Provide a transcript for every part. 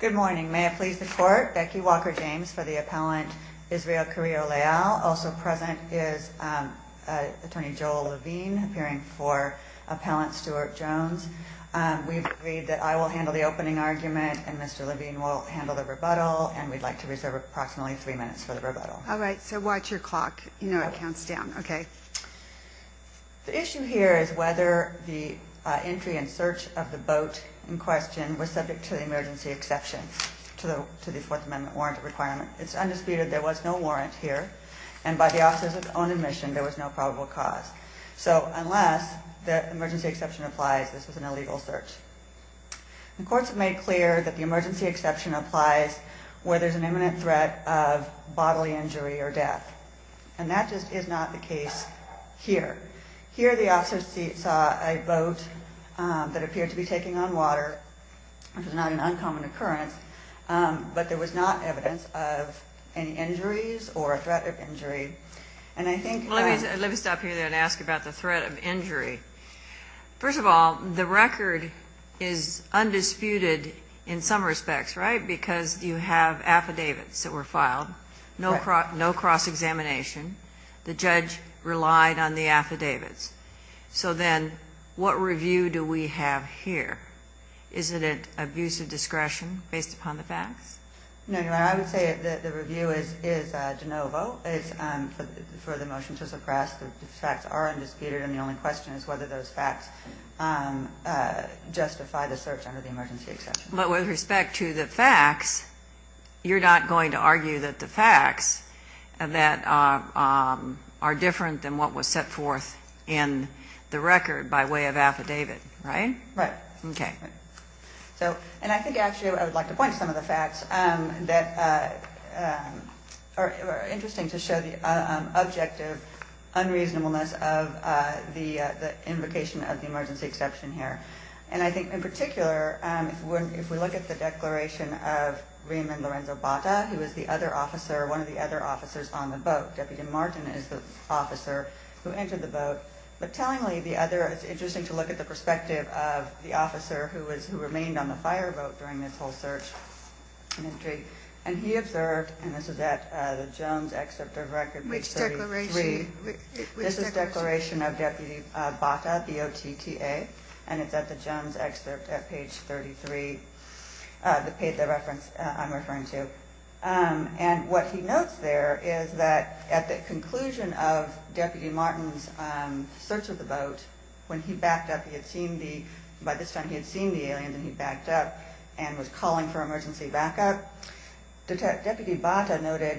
Good morning. May it please the court, Becky Walker-James for the appellant Israel Carrillo-Leal. Also present is attorney Joel Levine, appearing for appellant Stewart Jones. We've agreed that I will handle the opening argument and Mr. Levine will handle the rebuttal, and we'd like to reserve approximately three minutes for the rebuttal. All right. So watch your clock. You know it counts down. Okay. The issue here is whether the entry and search of the boat in question was subject to the emergency exception to the Fourth Amendment warrant requirement. It's undisputed there was no warrant here, and by the officer's own admission, there was no probable cause. So unless the emergency exception applies, this is an illegal search. The courts have made clear that the emergency exception applies where there's an imminent threat of bodily injury or death, and that just is not the case here. Here the officer saw a boat that appeared to be taking on water, which was not an uncommon occurrence, but there was not evidence of any injuries or a threat of injury, and I think... Let me stop here and ask about the threat of injury. First of all, the record is undisputed in some respects, right, because you have affidavits that were filed, no cross-examination. The judge relied on the affidavits. So then what review do we have here? Isn't it abuse of discretion based upon the facts? No, Your Honor, I would say that the review is de novo. It's for the motion to suppress the facts are undisputed, and the only question is whether those facts justify the search under the emergency exception. But with respect to the facts, you're not going to argue that the facts that are different than what was set forth in the record by way of affidavit, right? Right. Okay. And I think actually I would like to point to some of the facts that are interesting to show the objective unreasonableness of the invocation of the emergency exception here. And I think in particular, if we look at the declaration of Raymond Lorenzo Bata, who was the other officer, one of the other officers on the boat. Deputy Martin is the officer who entered the boat. But tellingly, it's interesting to look at the perspective of the officer who remained on the fire boat during this whole search and entry. And he observed, and this is at the Jones Excerpt of Record page 33. Which declaration? This is declaration of Deputy Bata, the OTTA, and it's at the Jones Excerpt at page 33, the reference I'm referring to. And what he notes there is that at the conclusion of Deputy Martin's search of the boat, when he backed up, by this time he had seen the aliens and he backed up and was calling for emergency backup. Deputy Bata noted,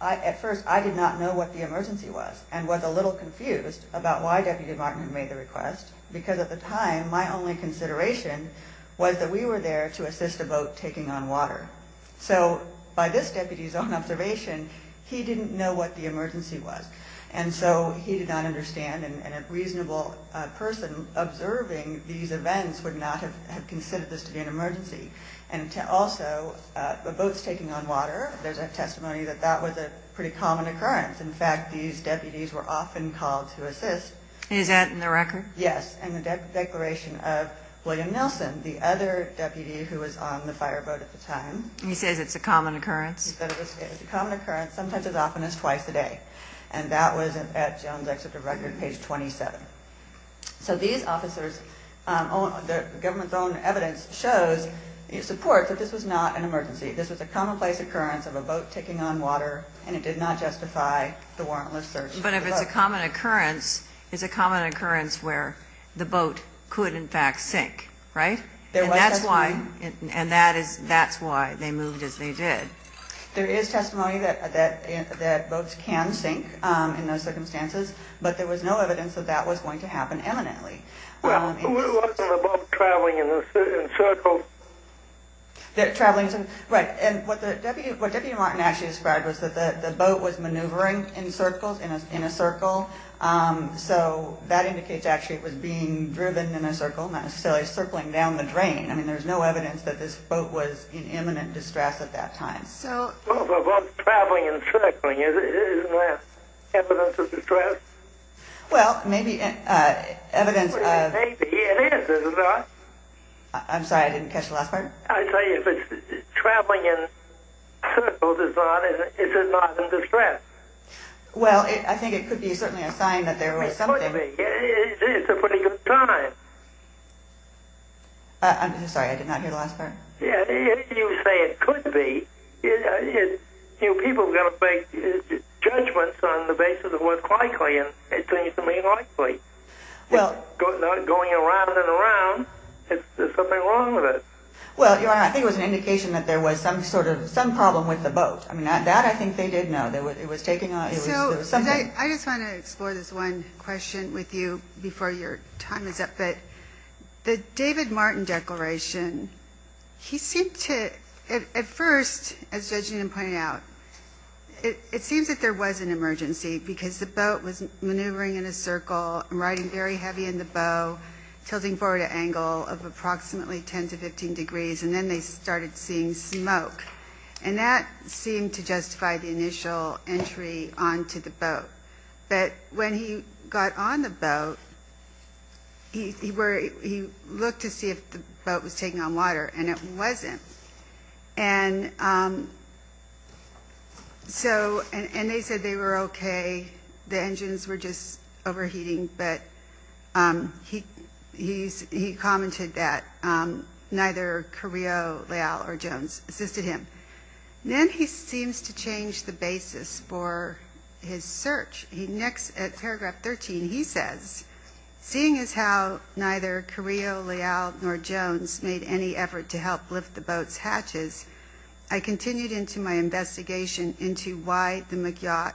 at first, I did not know what the emergency was and was a little confused about why Deputy Martin had made the request. Because at the time, my only consideration was that we were there to assist a boat taking on water. So by this deputy's own observation, he didn't know what the emergency was. And so he did not understand, and a reasonable person observing these events would not have considered this to be an emergency. And also, the boats taking on water, there's a testimony that that was a pretty common occurrence. In fact, these deputies were often called to assist. Is that in the record? Yes, in the declaration of William Nelson, the other deputy who was on the fireboat at the time. And he says it's a common occurrence? It's a common occurrence, sometimes as often as twice a day. And that was at Jones Excerpt of record, page 27. So these officers, the government's own evidence shows, supports that this was not an emergency. This was a commonplace occurrence of a boat taking on water, and it did not justify the warrantless search of the boat. But if it's a common occurrence, it's a common occurrence where the boat could, in fact, sink, right? And that's why they moved as they did. There is testimony that boats can sink in those circumstances, but there was no evidence that that was going to happen imminently. Well, wasn't the boat traveling in circles? Right. And what Deputy Martin actually described was that the boat was maneuvering in circles, in a circle. So that indicates actually it was being driven in a circle, not necessarily circling down the drain. I mean, there's no evidence that this boat was in imminent distress at that time. So the boat's traveling in circles. Isn't that evidence of distress? Well, maybe evidence of... Maybe it is, isn't it? I'm sorry, I didn't catch the last part. I tell you, if it's traveling in circles, is it not in distress? Well, I think it could be certainly a sign that there was something... It could be. It's a pretty good sign. I'm sorry, I did not hear the last part. Yeah, you say it could be. You know, people have got to make judgments on the basis of what's likely, and it seems to me likely. Going around and around, there's something wrong with it. Well, Your Honor, I think it was an indication that there was some problem with the boat. I mean, that I think they did know. I just want to explore this one question with you before your time is up. The David Martin declaration, he seemed to... At first, as Judge Newton pointed out, it seems that there was an emergency because the boat was maneuvering in a circle, riding very heavy in the bow, tilting forward an angle of approximately 10 to 15 degrees, and then they started seeing smoke. And that seemed to justify the initial entry onto the boat. But when he got on the boat, he looked to see if the boat was taking on water, and it wasn't. And they said they were okay, the engines were just overheating, but he commented that neither Carrillo, Leal, or Jones assisted him. Then he seems to change the basis for his search. In paragraph 13, he says, Seeing as how neither Carrillo, Leal, nor Jones made any effort to help lift the boat's hatches, I continued into my investigation into why the McYacht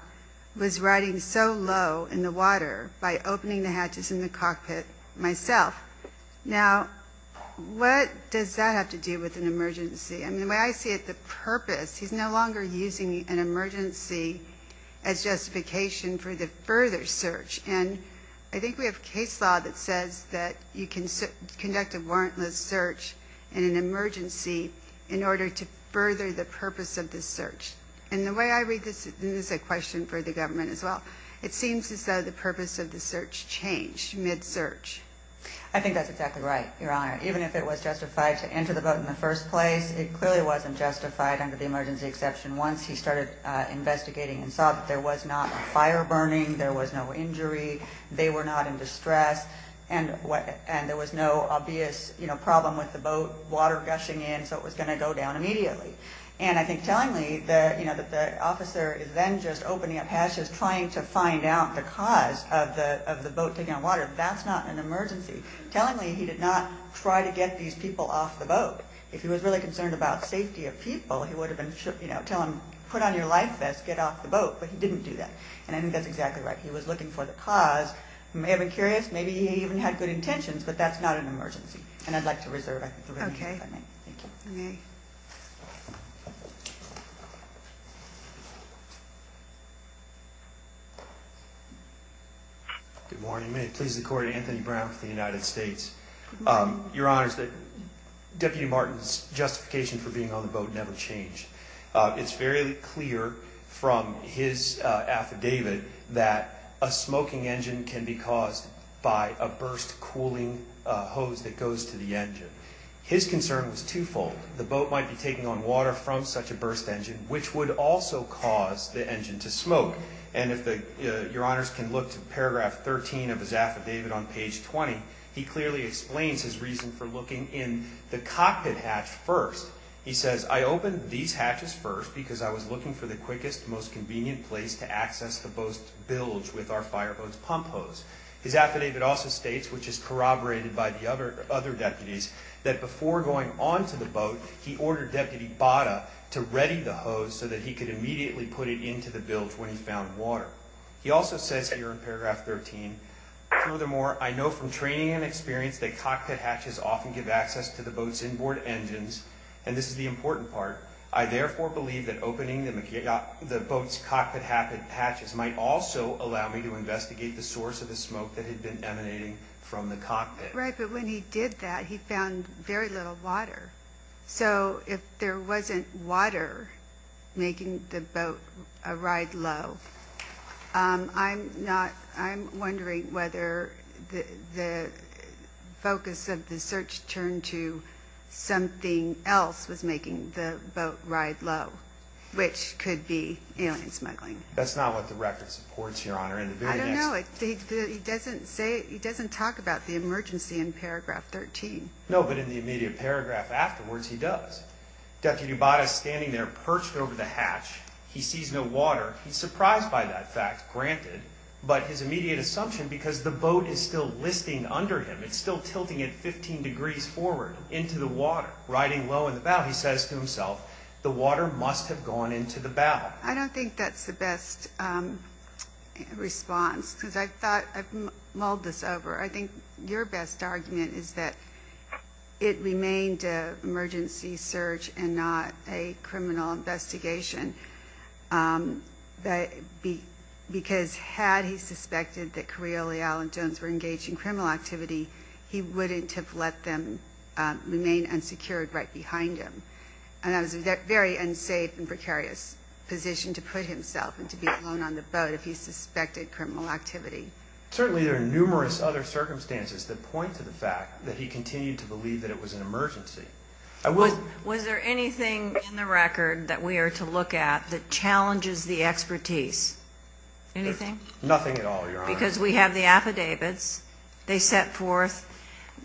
was riding so low in the water by opening the hatches in the cockpit myself. Now, what does that have to do with an emergency? I mean, the way I see it, the purpose, he's no longer using an emergency as justification for the further search. And I think we have case law that says that you can conduct a warrantless search in an emergency in order to further the purpose of the search. And the way I read this, and this is a question for the government as well, it seems as though the purpose of the search changed mid-search. I think that's exactly right, Your Honor. Even if it was justified to enter the boat in the first place, it clearly wasn't justified under the emergency exception. Once he started investigating and saw that there was not a fire burning, there was no injury, they were not in distress, and there was no obvious problem with the boat water gushing in, so it was going to go down immediately. And I think tellingly that the officer is then just opening up hatches, trying to find out the cause of the boat taking on water, that's not an emergency. Tellingly, he did not try to get these people off the boat. If he was really concerned about safety of people, he would have been telling them, put on your life vest, get off the boat, but he didn't do that. And I think that's exactly right. He was looking for the cause. He may have been curious, maybe he even had good intentions, but that's not an emergency. And I'd like to reserve the remaining time. Thank you. Good morning. May it please the Court, Anthony Brown for the United States. Your Honor, Deputy Martin's justification for being on the boat never changed. It's very clear from his affidavit that a smoking engine can be caused by a burst cooling hose that goes to the engine. His concern was twofold. The boat might be taking on water from such a burst engine, which would also cause the engine to smoke. And if Your Honors can look to paragraph 13 of his affidavit on page 20, he clearly explains his reason for looking in the cockpit hatch first. He says, I opened these hatches first because I was looking for the quickest, most convenient place to access the boat's bilge with our fireboat's pump hose. His affidavit also states, which is corroborated by the other deputies, that before going onto the boat, he ordered Deputy Bada to ready the hose so that he could immediately put it into the bilge when he found water. He also says here in paragraph 13, Furthermore, I know from training and experience that cockpit hatches often give access to the boat's inboard engines. And this is the important part. I therefore believe that opening the boat's cockpit hatches might also allow me to investigate the source of the smoke that had been emanating from the cockpit. Right, but when he did that, he found very little water. So if there wasn't water making the boat ride low, I'm wondering whether the focus of the search turned to something else was making the boat ride low, which could be alien smuggling. That's not what the record supports, Your Honor. I don't know. He doesn't talk about the emergency in paragraph 13. No, but in the immediate paragraph afterwards, he does. Deputy Bada is standing there perched over the hatch. He sees no water. He's surprised by that fact, granted, but his immediate assumption, because the boat is still listing under him. It's still tilting it 15 degrees forward into the water, riding low in the bow. He says to himself, The water must have gone into the bow. I don't think that's the best response because I've mulled this over. I think your best argument is that it remained an emergency search and not a criminal investigation. Because had he suspected that Coriolis, Allen, Jones were engaged in criminal activity, he wouldn't have let them remain unsecured right behind him. And that was a very unsafe and precarious position to put himself and to be alone on the boat if he suspected criminal activity. Certainly there are numerous other circumstances that point to the fact that he continued to believe that it was an emergency. Was there anything in the record that we are to look at that challenges the expertise? Anything? Nothing at all, Your Honor. Because we have the affidavits. They set forth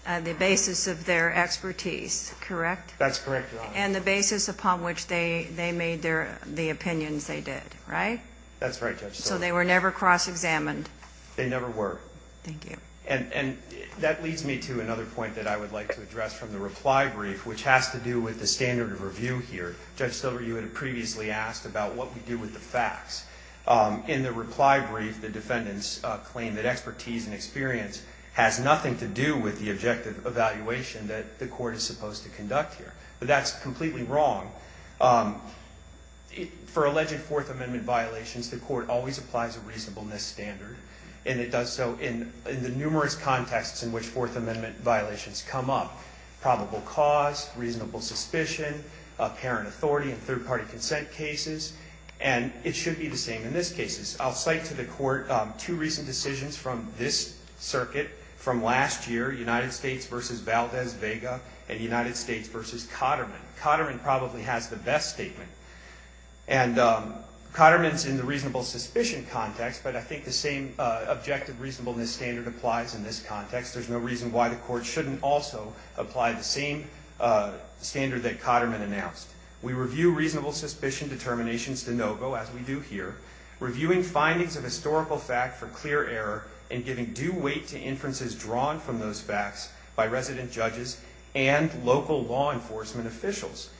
the basis of their expertise, correct? That's correct, Your Honor. And the basis upon which they made the opinions they did, right? That's right, Judge. So they were never cross-examined? They never were. Thank you. And that leads me to another point that I would like to address from the reply brief, which has to do with the standard of review here. Judge Silver, you had previously asked about what we do with the facts. In the reply brief, the defendants claim that expertise and experience has nothing to do with the objective evaluation that the court is supposed to conduct here. But that's completely wrong. For alleged Fourth Amendment violations, the court always applies a reasonableness standard, and it does so in the numerous contexts in which Fourth Amendment violations come up, probable cause, reasonable suspicion, apparent authority in third-party consent cases, and it should be the same in this case. I'll cite to the court two recent decisions from this circuit from last year, United States v. Valdez-Vega and United States v. Cotterman. Cotterman probably has the best statement. And Cotterman's in the reasonable suspicion context, but I think the same objective reasonableness standard applies in this context. There's no reason why the court shouldn't also apply the same standard that Cotterman announced. We review reasonable suspicion determinations de novo, as we do here, reviewing findings of historical fact for clear error and giving due weight to inferences drawn from those facts by resident judges and local law enforcement officials.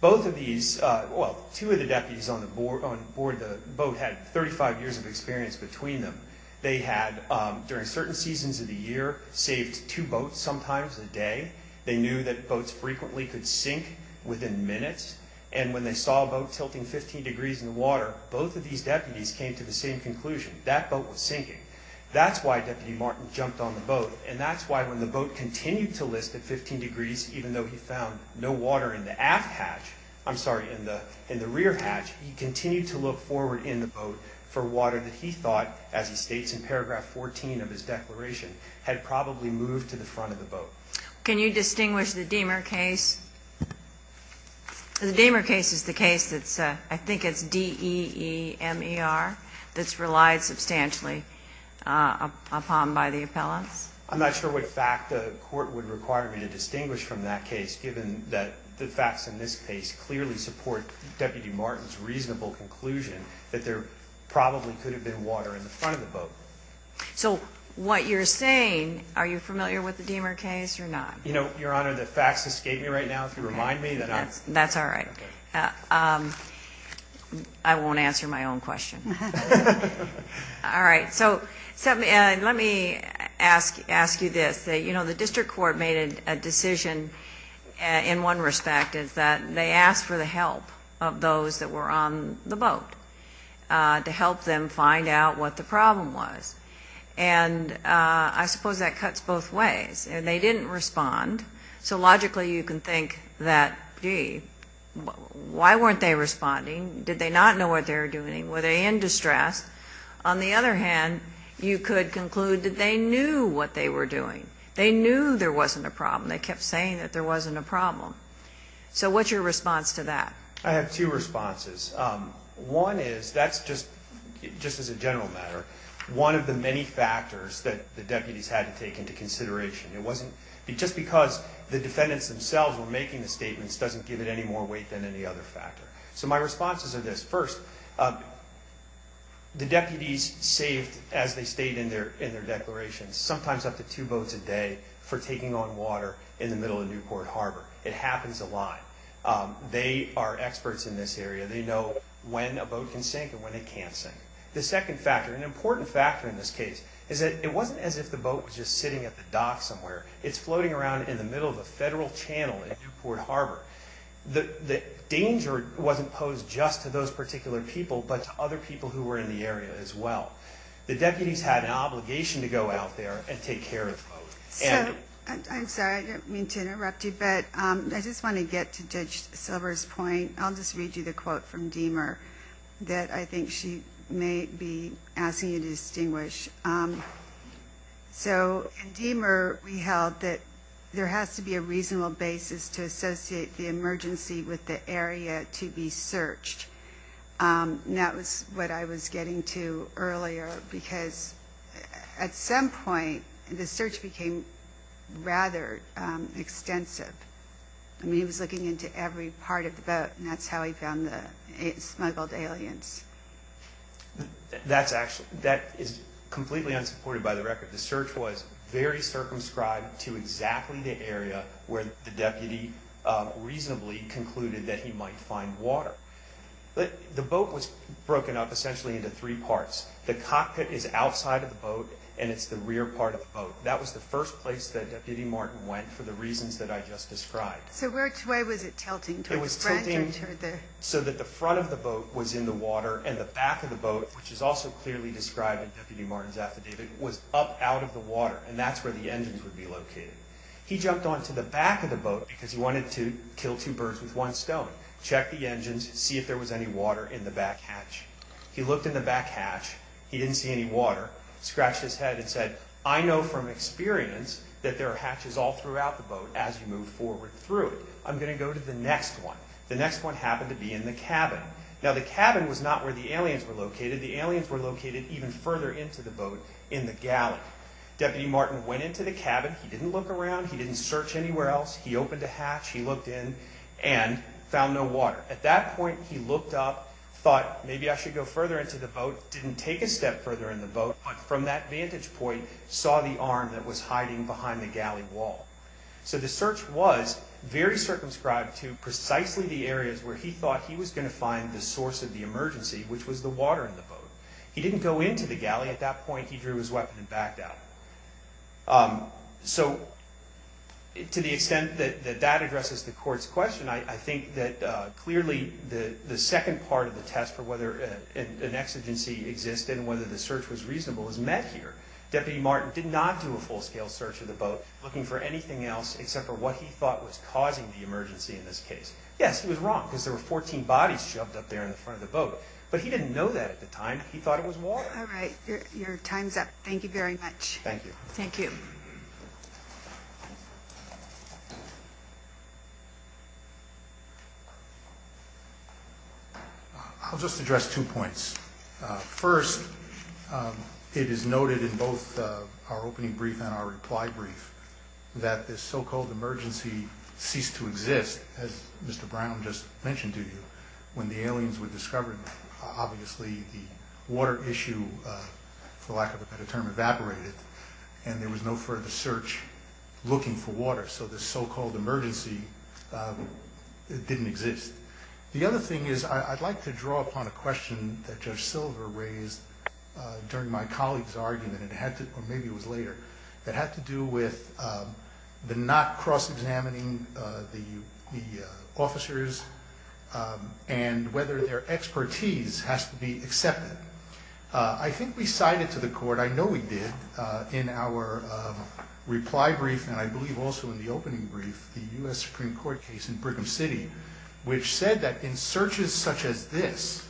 Both of these, well, two of the deputies on board the boat had 35 years of experience between them. They had, during certain seasons of the year, saved two boats sometimes a day. They knew that boats frequently could sink within minutes, and when they saw a boat tilting 15 degrees in the water, both of these deputies came to the same conclusion, that boat was sinking. That's why Deputy Martin jumped on the boat, and that's why when the boat continued to list at 15 degrees, even though he found no water in the aft hatch, I'm sorry, in the rear hatch, he continued to look forward in the boat for water that he thought, as he states in paragraph 14 of his declaration, had probably moved to the front of the boat. Can you distinguish the Dehmer case? The Dehmer case is the case that's, I think it's D-E-E-M-E-R, that's relied substantially upon by the appellants. I'm not sure what fact the court would require me to distinguish from that case, given that the facts in this case clearly support Deputy Martin's reasonable conclusion that there probably could have been water in the front of the boat. So what you're saying, are you familiar with the Dehmer case or not? You know, Your Honor, the facts escape me right now. If you remind me, then I'll… That's all right. I won't answer my own question. All right. So let me ask you this. You know, the district court made a decision in one respect, is that they asked for the help of those that were on the boat to help them find out what the problem was. And I suppose that cuts both ways. And they didn't respond. So logically you can think that, gee, why weren't they responding? Did they not know what they were doing? Were they in distress? On the other hand, you could conclude that they knew what they were doing. They knew there wasn't a problem. They kept saying that there wasn't a problem. So what's your response to that? I have two responses. One is, that's just as a general matter, one of the many factors that the deputies had to take into consideration. It wasn't just because the defendants themselves were making the statements doesn't give it any more weight than any other factor. So my responses are this. First, the deputies saved, as they stated in their declarations, sometimes up to two boats a day for taking on water in the middle of Newport Harbor. It happens a lot. They are experts in this area. They know when a boat can sink and when it can't sink. The second factor, an important factor in this case, is that it wasn't as if the boat was just sitting at the dock somewhere. It's floating around in the middle of a federal channel in Newport Harbor. The danger wasn't posed just to those particular people, but to other people who were in the area as well. The deputies had an obligation to go out there and take care of the boat. I'm sorry, I didn't mean to interrupt you, but I just want to get to Judge Silver's point. I'll just read you the quote from Deamer that I think she may be asking you to distinguish. In Deamer, we held that there has to be a reasonable basis to associate the emergency with the area to be searched. That was what I was getting to earlier, because at some point, the search became rather extensive. I mean, he was looking into every part of the boat, and that's how he found the smuggled aliens. That is completely unsupported by the record. The search was very circumscribed to exactly the area where the deputy reasonably concluded that he might find water. The boat was broken up essentially into three parts. The cockpit is outside of the boat, and it's the rear part of the boat. That was the first place that Deputy Martin went for the reasons that I just described. So where was it tilting? It was tilting so that the front of the boat was in the water, and the back of the boat, which is also clearly described in Deputy Martin's affidavit, was up out of the water, and that's where the engines would be located. He jumped onto the back of the boat because he wanted to kill two birds with one stone, check the engines, see if there was any water in the back hatch. He looked in the back hatch. He didn't see any water, scratched his head, and said, I know from experience that there are hatches all throughout the boat as you move forward through it. I'm going to go to the next one. The next one happened to be in the cabin. Now, the cabin was not where the aliens were located. The aliens were located even further into the boat in the galley. Deputy Martin went into the cabin. He didn't look around. He didn't search anywhere else. He opened a hatch. He looked in and found no water. At that point, he looked up, thought maybe I should go further into the boat, didn't take a step further in the boat, but from that vantage point saw the arm that was hiding behind the galley wall. So the search was very circumscribed to precisely the areas where he thought he was going to find the source of the emergency, which was the water in the boat. He didn't go into the galley. At that point, he drew his weapon and backed out. So to the extent that that addresses the court's question, I think that clearly the second part of the test for whether an exigency existed and whether the search was reasonable is met here. Deputy Martin did not do a full-scale search of the boat looking for anything else except for what he thought was causing the emergency in this case. Yes, he was wrong because there were 14 bodies shoved up there in front of the boat, but he didn't know that at the time. He thought it was water. All right. Your time's up. Thank you very much. Thank you. Thank you. I'll just address two points. First, it is noted in both our opening brief and our reply brief that this so-called emergency ceased to exist, as Mr. Brown just mentioned to you, when the aliens were discovered. Obviously the water issue, for lack of a better term, evaporated, and there was no further search looking for water. So this so-called emergency didn't exist. The other thing is I'd like to draw upon a question that Judge Silver raised during my colleague's argument, or maybe it was later, that had to do with the not cross-examining the officers and whether their expertise has to be accepted. I think we cited to the court, I know we did, in our reply brief, and I believe also in the opening brief, the U.S. Supreme Court case in Brigham City, which said that in searches such as this,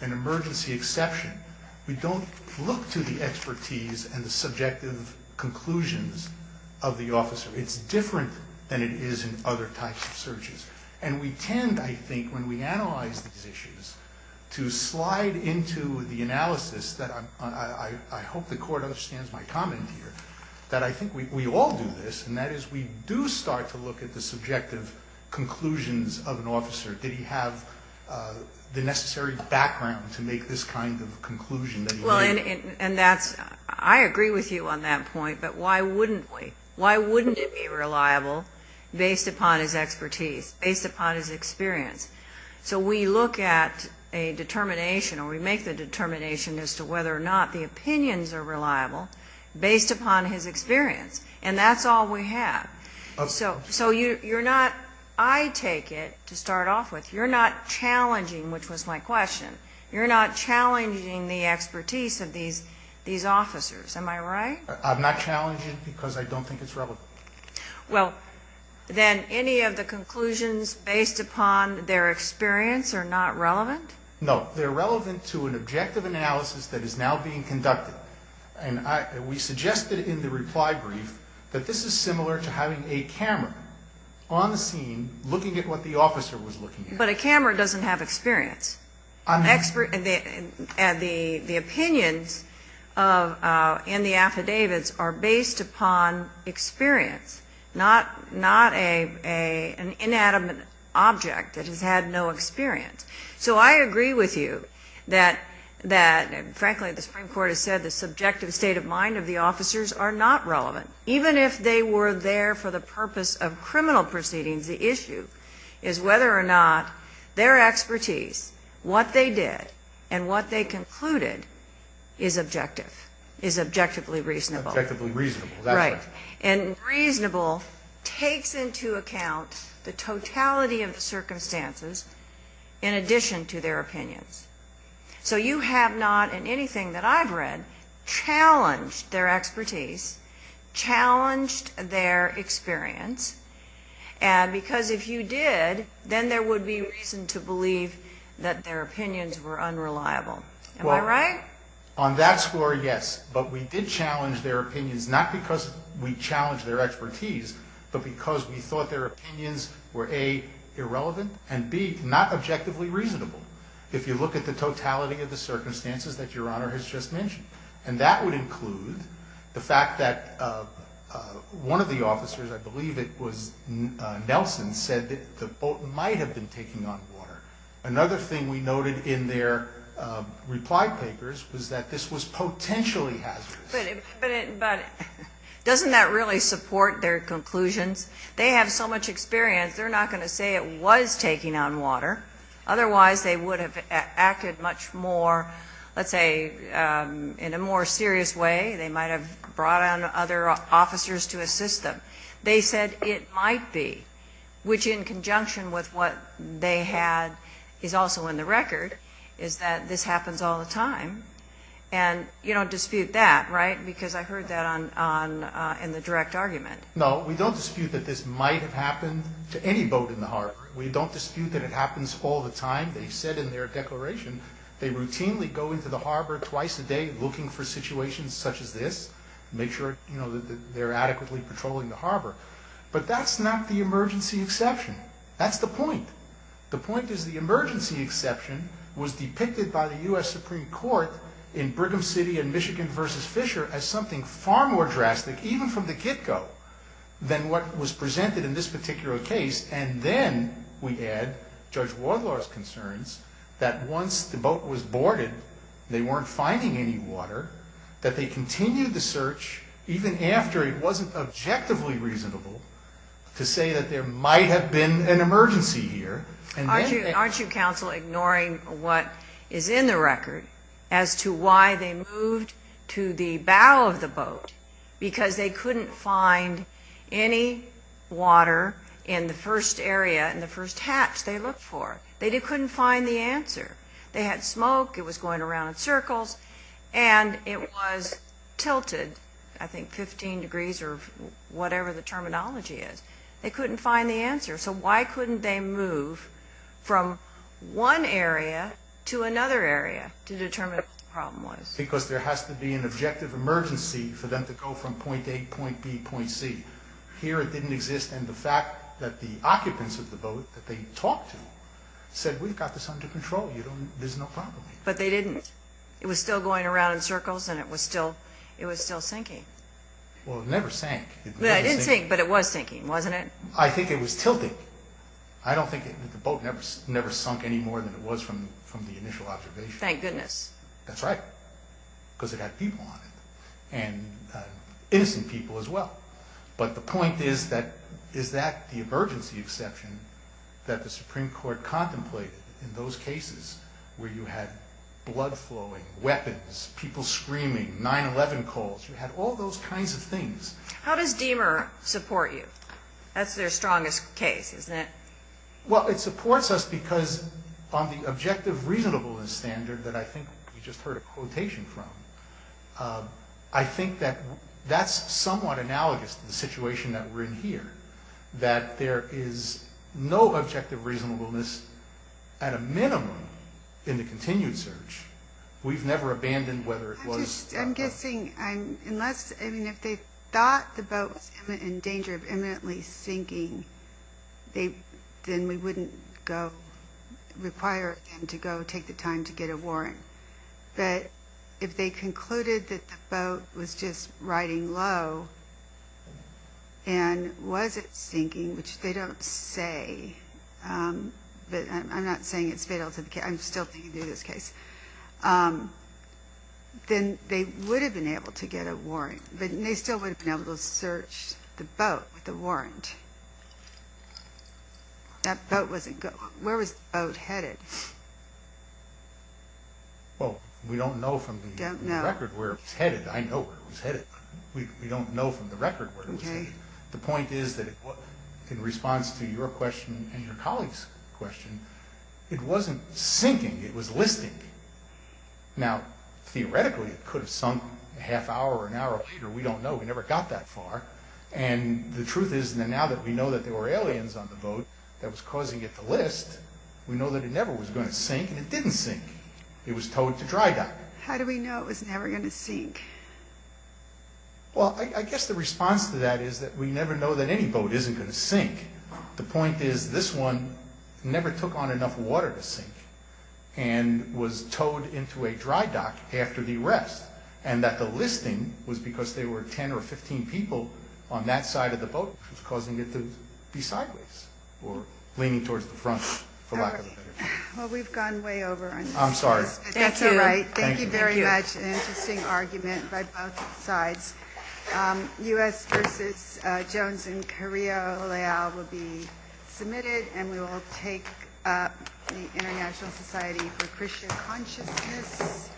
an emergency exception, we don't look to the expertise and the subjective conclusions of the officer. And we tend, I think, when we analyze these issues, to slide into the analysis that I'm on. I hope the court understands my comment here, that I think we all do this, and that is we do start to look at the subjective conclusions of an officer. Did he have the necessary background to make this kind of conclusion that he made? Well, and that's – I agree with you on that point, but why wouldn't we? based upon his expertise, based upon his experience. So we look at a determination, or we make the determination, as to whether or not the opinions are reliable based upon his experience. And that's all we have. So you're not – I take it, to start off with, you're not challenging, which was my question, you're not challenging the expertise of these officers. Am I right? I'm not challenging because I don't think it's relevant. Well, then any of the conclusions based upon their experience are not relevant? No. They're relevant to an objective analysis that is now being conducted. And we suggested in the reply brief that this is similar to having a camera on the scene, looking at what the officer was looking at. But a camera doesn't have experience. And the opinions in the affidavits are based upon experience, not an inanimate object that has had no experience. So I agree with you that, frankly, the Supreme Court has said the subjective state of mind of the officers are not relevant. Even if they were there for the purpose of criminal proceedings, the issue is whether or not their expertise, what they did, and what they concluded is objective, is objectively reasonable. Objectively reasonable. Right. And reasonable takes into account the totality of the circumstances in addition to their opinions. So you have not in anything that I've read challenged their expertise, challenged their experience, because if you did, then there would be reason to believe that their opinions were unreliable. Am I right? Well, on that score, yes. But we did challenge their opinions, not because we challenged their expertise, but because we thought their opinions were, A, irrelevant, and, B, not objectively reasonable, if you look at the totality of the circumstances that Your Honor has just mentioned. And that would include the fact that one of the officers, I believe it was Nelson, said that the boat might have been taking on water. Another thing we noted in their reply papers was that this was potentially hazardous. But doesn't that really support their conclusions? They have so much experience, they're not going to say it was taking on water. Otherwise, they would have acted much more, let's say, in a more serious way. They might have brought on other officers to assist them. They said it might be, which in conjunction with what they had is also in the record, is that this happens all the time. And you don't dispute that, right, because I heard that in the direct argument. No, we don't dispute that this might have happened to any boat in the harbor. We don't dispute that it happens all the time. They said in their declaration they routinely go into the harbor twice a day looking for situations such as this, make sure that they're adequately patrolling the harbor. But that's not the emergency exception. That's the point. The point is the emergency exception was depicted by the U.S. Supreme Court in Brigham City and Michigan v. Fisher as something far more drastic, even from the get-go, than what was presented in this particular case. And then we add Judge Wardlaw's concerns that once the boat was boarded, they weren't finding any water, that they continued the search even after it wasn't objectively reasonable to say that there might have been an emergency here. Aren't you, counsel, ignoring what is in the record as to why they moved to the bow of the boat? Because they couldn't find any water in the first area, in the first hatch they looked for. They couldn't find the answer. They had smoke. It was going around in circles. And it was tilted, I think, 15 degrees or whatever the terminology is. They couldn't find the answer. So why couldn't they move from one area to another area to determine what the problem was? Because there has to be an objective emergency for them to go from point A, point B, point C. Here it didn't exist, and the fact that the occupants of the boat that they talked to said we've got this under control, there's no problem. But they didn't. It was still going around in circles, and it was still sinking. Well, it never sank. It did sink, but it was sinking, wasn't it? I think it was tilting. I don't think the boat never sunk any more than it was from the initial observation. Thank goodness. That's right, because it had people on it, and innocent people as well. But the point is, is that the emergency exception that the Supreme Court contemplated in those cases where you had blood flowing, weapons, people screaming, 9-11 calls? You had all those kinds of things. How does Diemer support you? That's their strongest case, isn't it? Well, it supports us because on the objective reasonableness standard that I think we just heard a quotation from, I think that that's somewhat analogous to the situation that we're in here, that there is no objective reasonableness at a minimum in the continued search. We've never abandoned whether it was... I'm guessing unless, I mean, if they thought the boat was in danger of imminently sinking, then we wouldn't require them to go take the time to get a warrant. But if they concluded that the boat was just riding low and was it sinking, which they don't say, but I'm not saying it's fatal to the case... I'm still thinking through this case. Then they would have been able to get a warrant, but they still would have been able to search the boat with a warrant. That boat wasn't going... Where was the boat headed? Well, we don't know from the record where it was headed. I know where it was headed. We don't know from the record where it was headed. The point is that in response to your question and your colleague's question, it wasn't sinking, it was listing. Now, theoretically, it could have sunk a half hour or an hour later. We don't know. We never got that far. And the truth is now that we know that there were aliens on the boat that was causing it to list, we know that it never was going to sink, and it didn't sink. It was towed to dry dock. How do we know it was never going to sink? Well, I guess the response to that is that we never know that any boat isn't going to sink. The point is this one never took on enough water to sink and was towed into a dry dock after the arrest, and that the listing was because there were 10 or 15 people on that side of the boat, which was causing it to be sideways or leaning towards the front, for lack of a better term. All right. Well, we've gone way over on this. I'm sorry. That's all right. Thank you very much. An interesting argument by both sides. U.S. v. Jones and Carrillo Leal will be submitted, and we will take up the International Society for Christian Consciousness.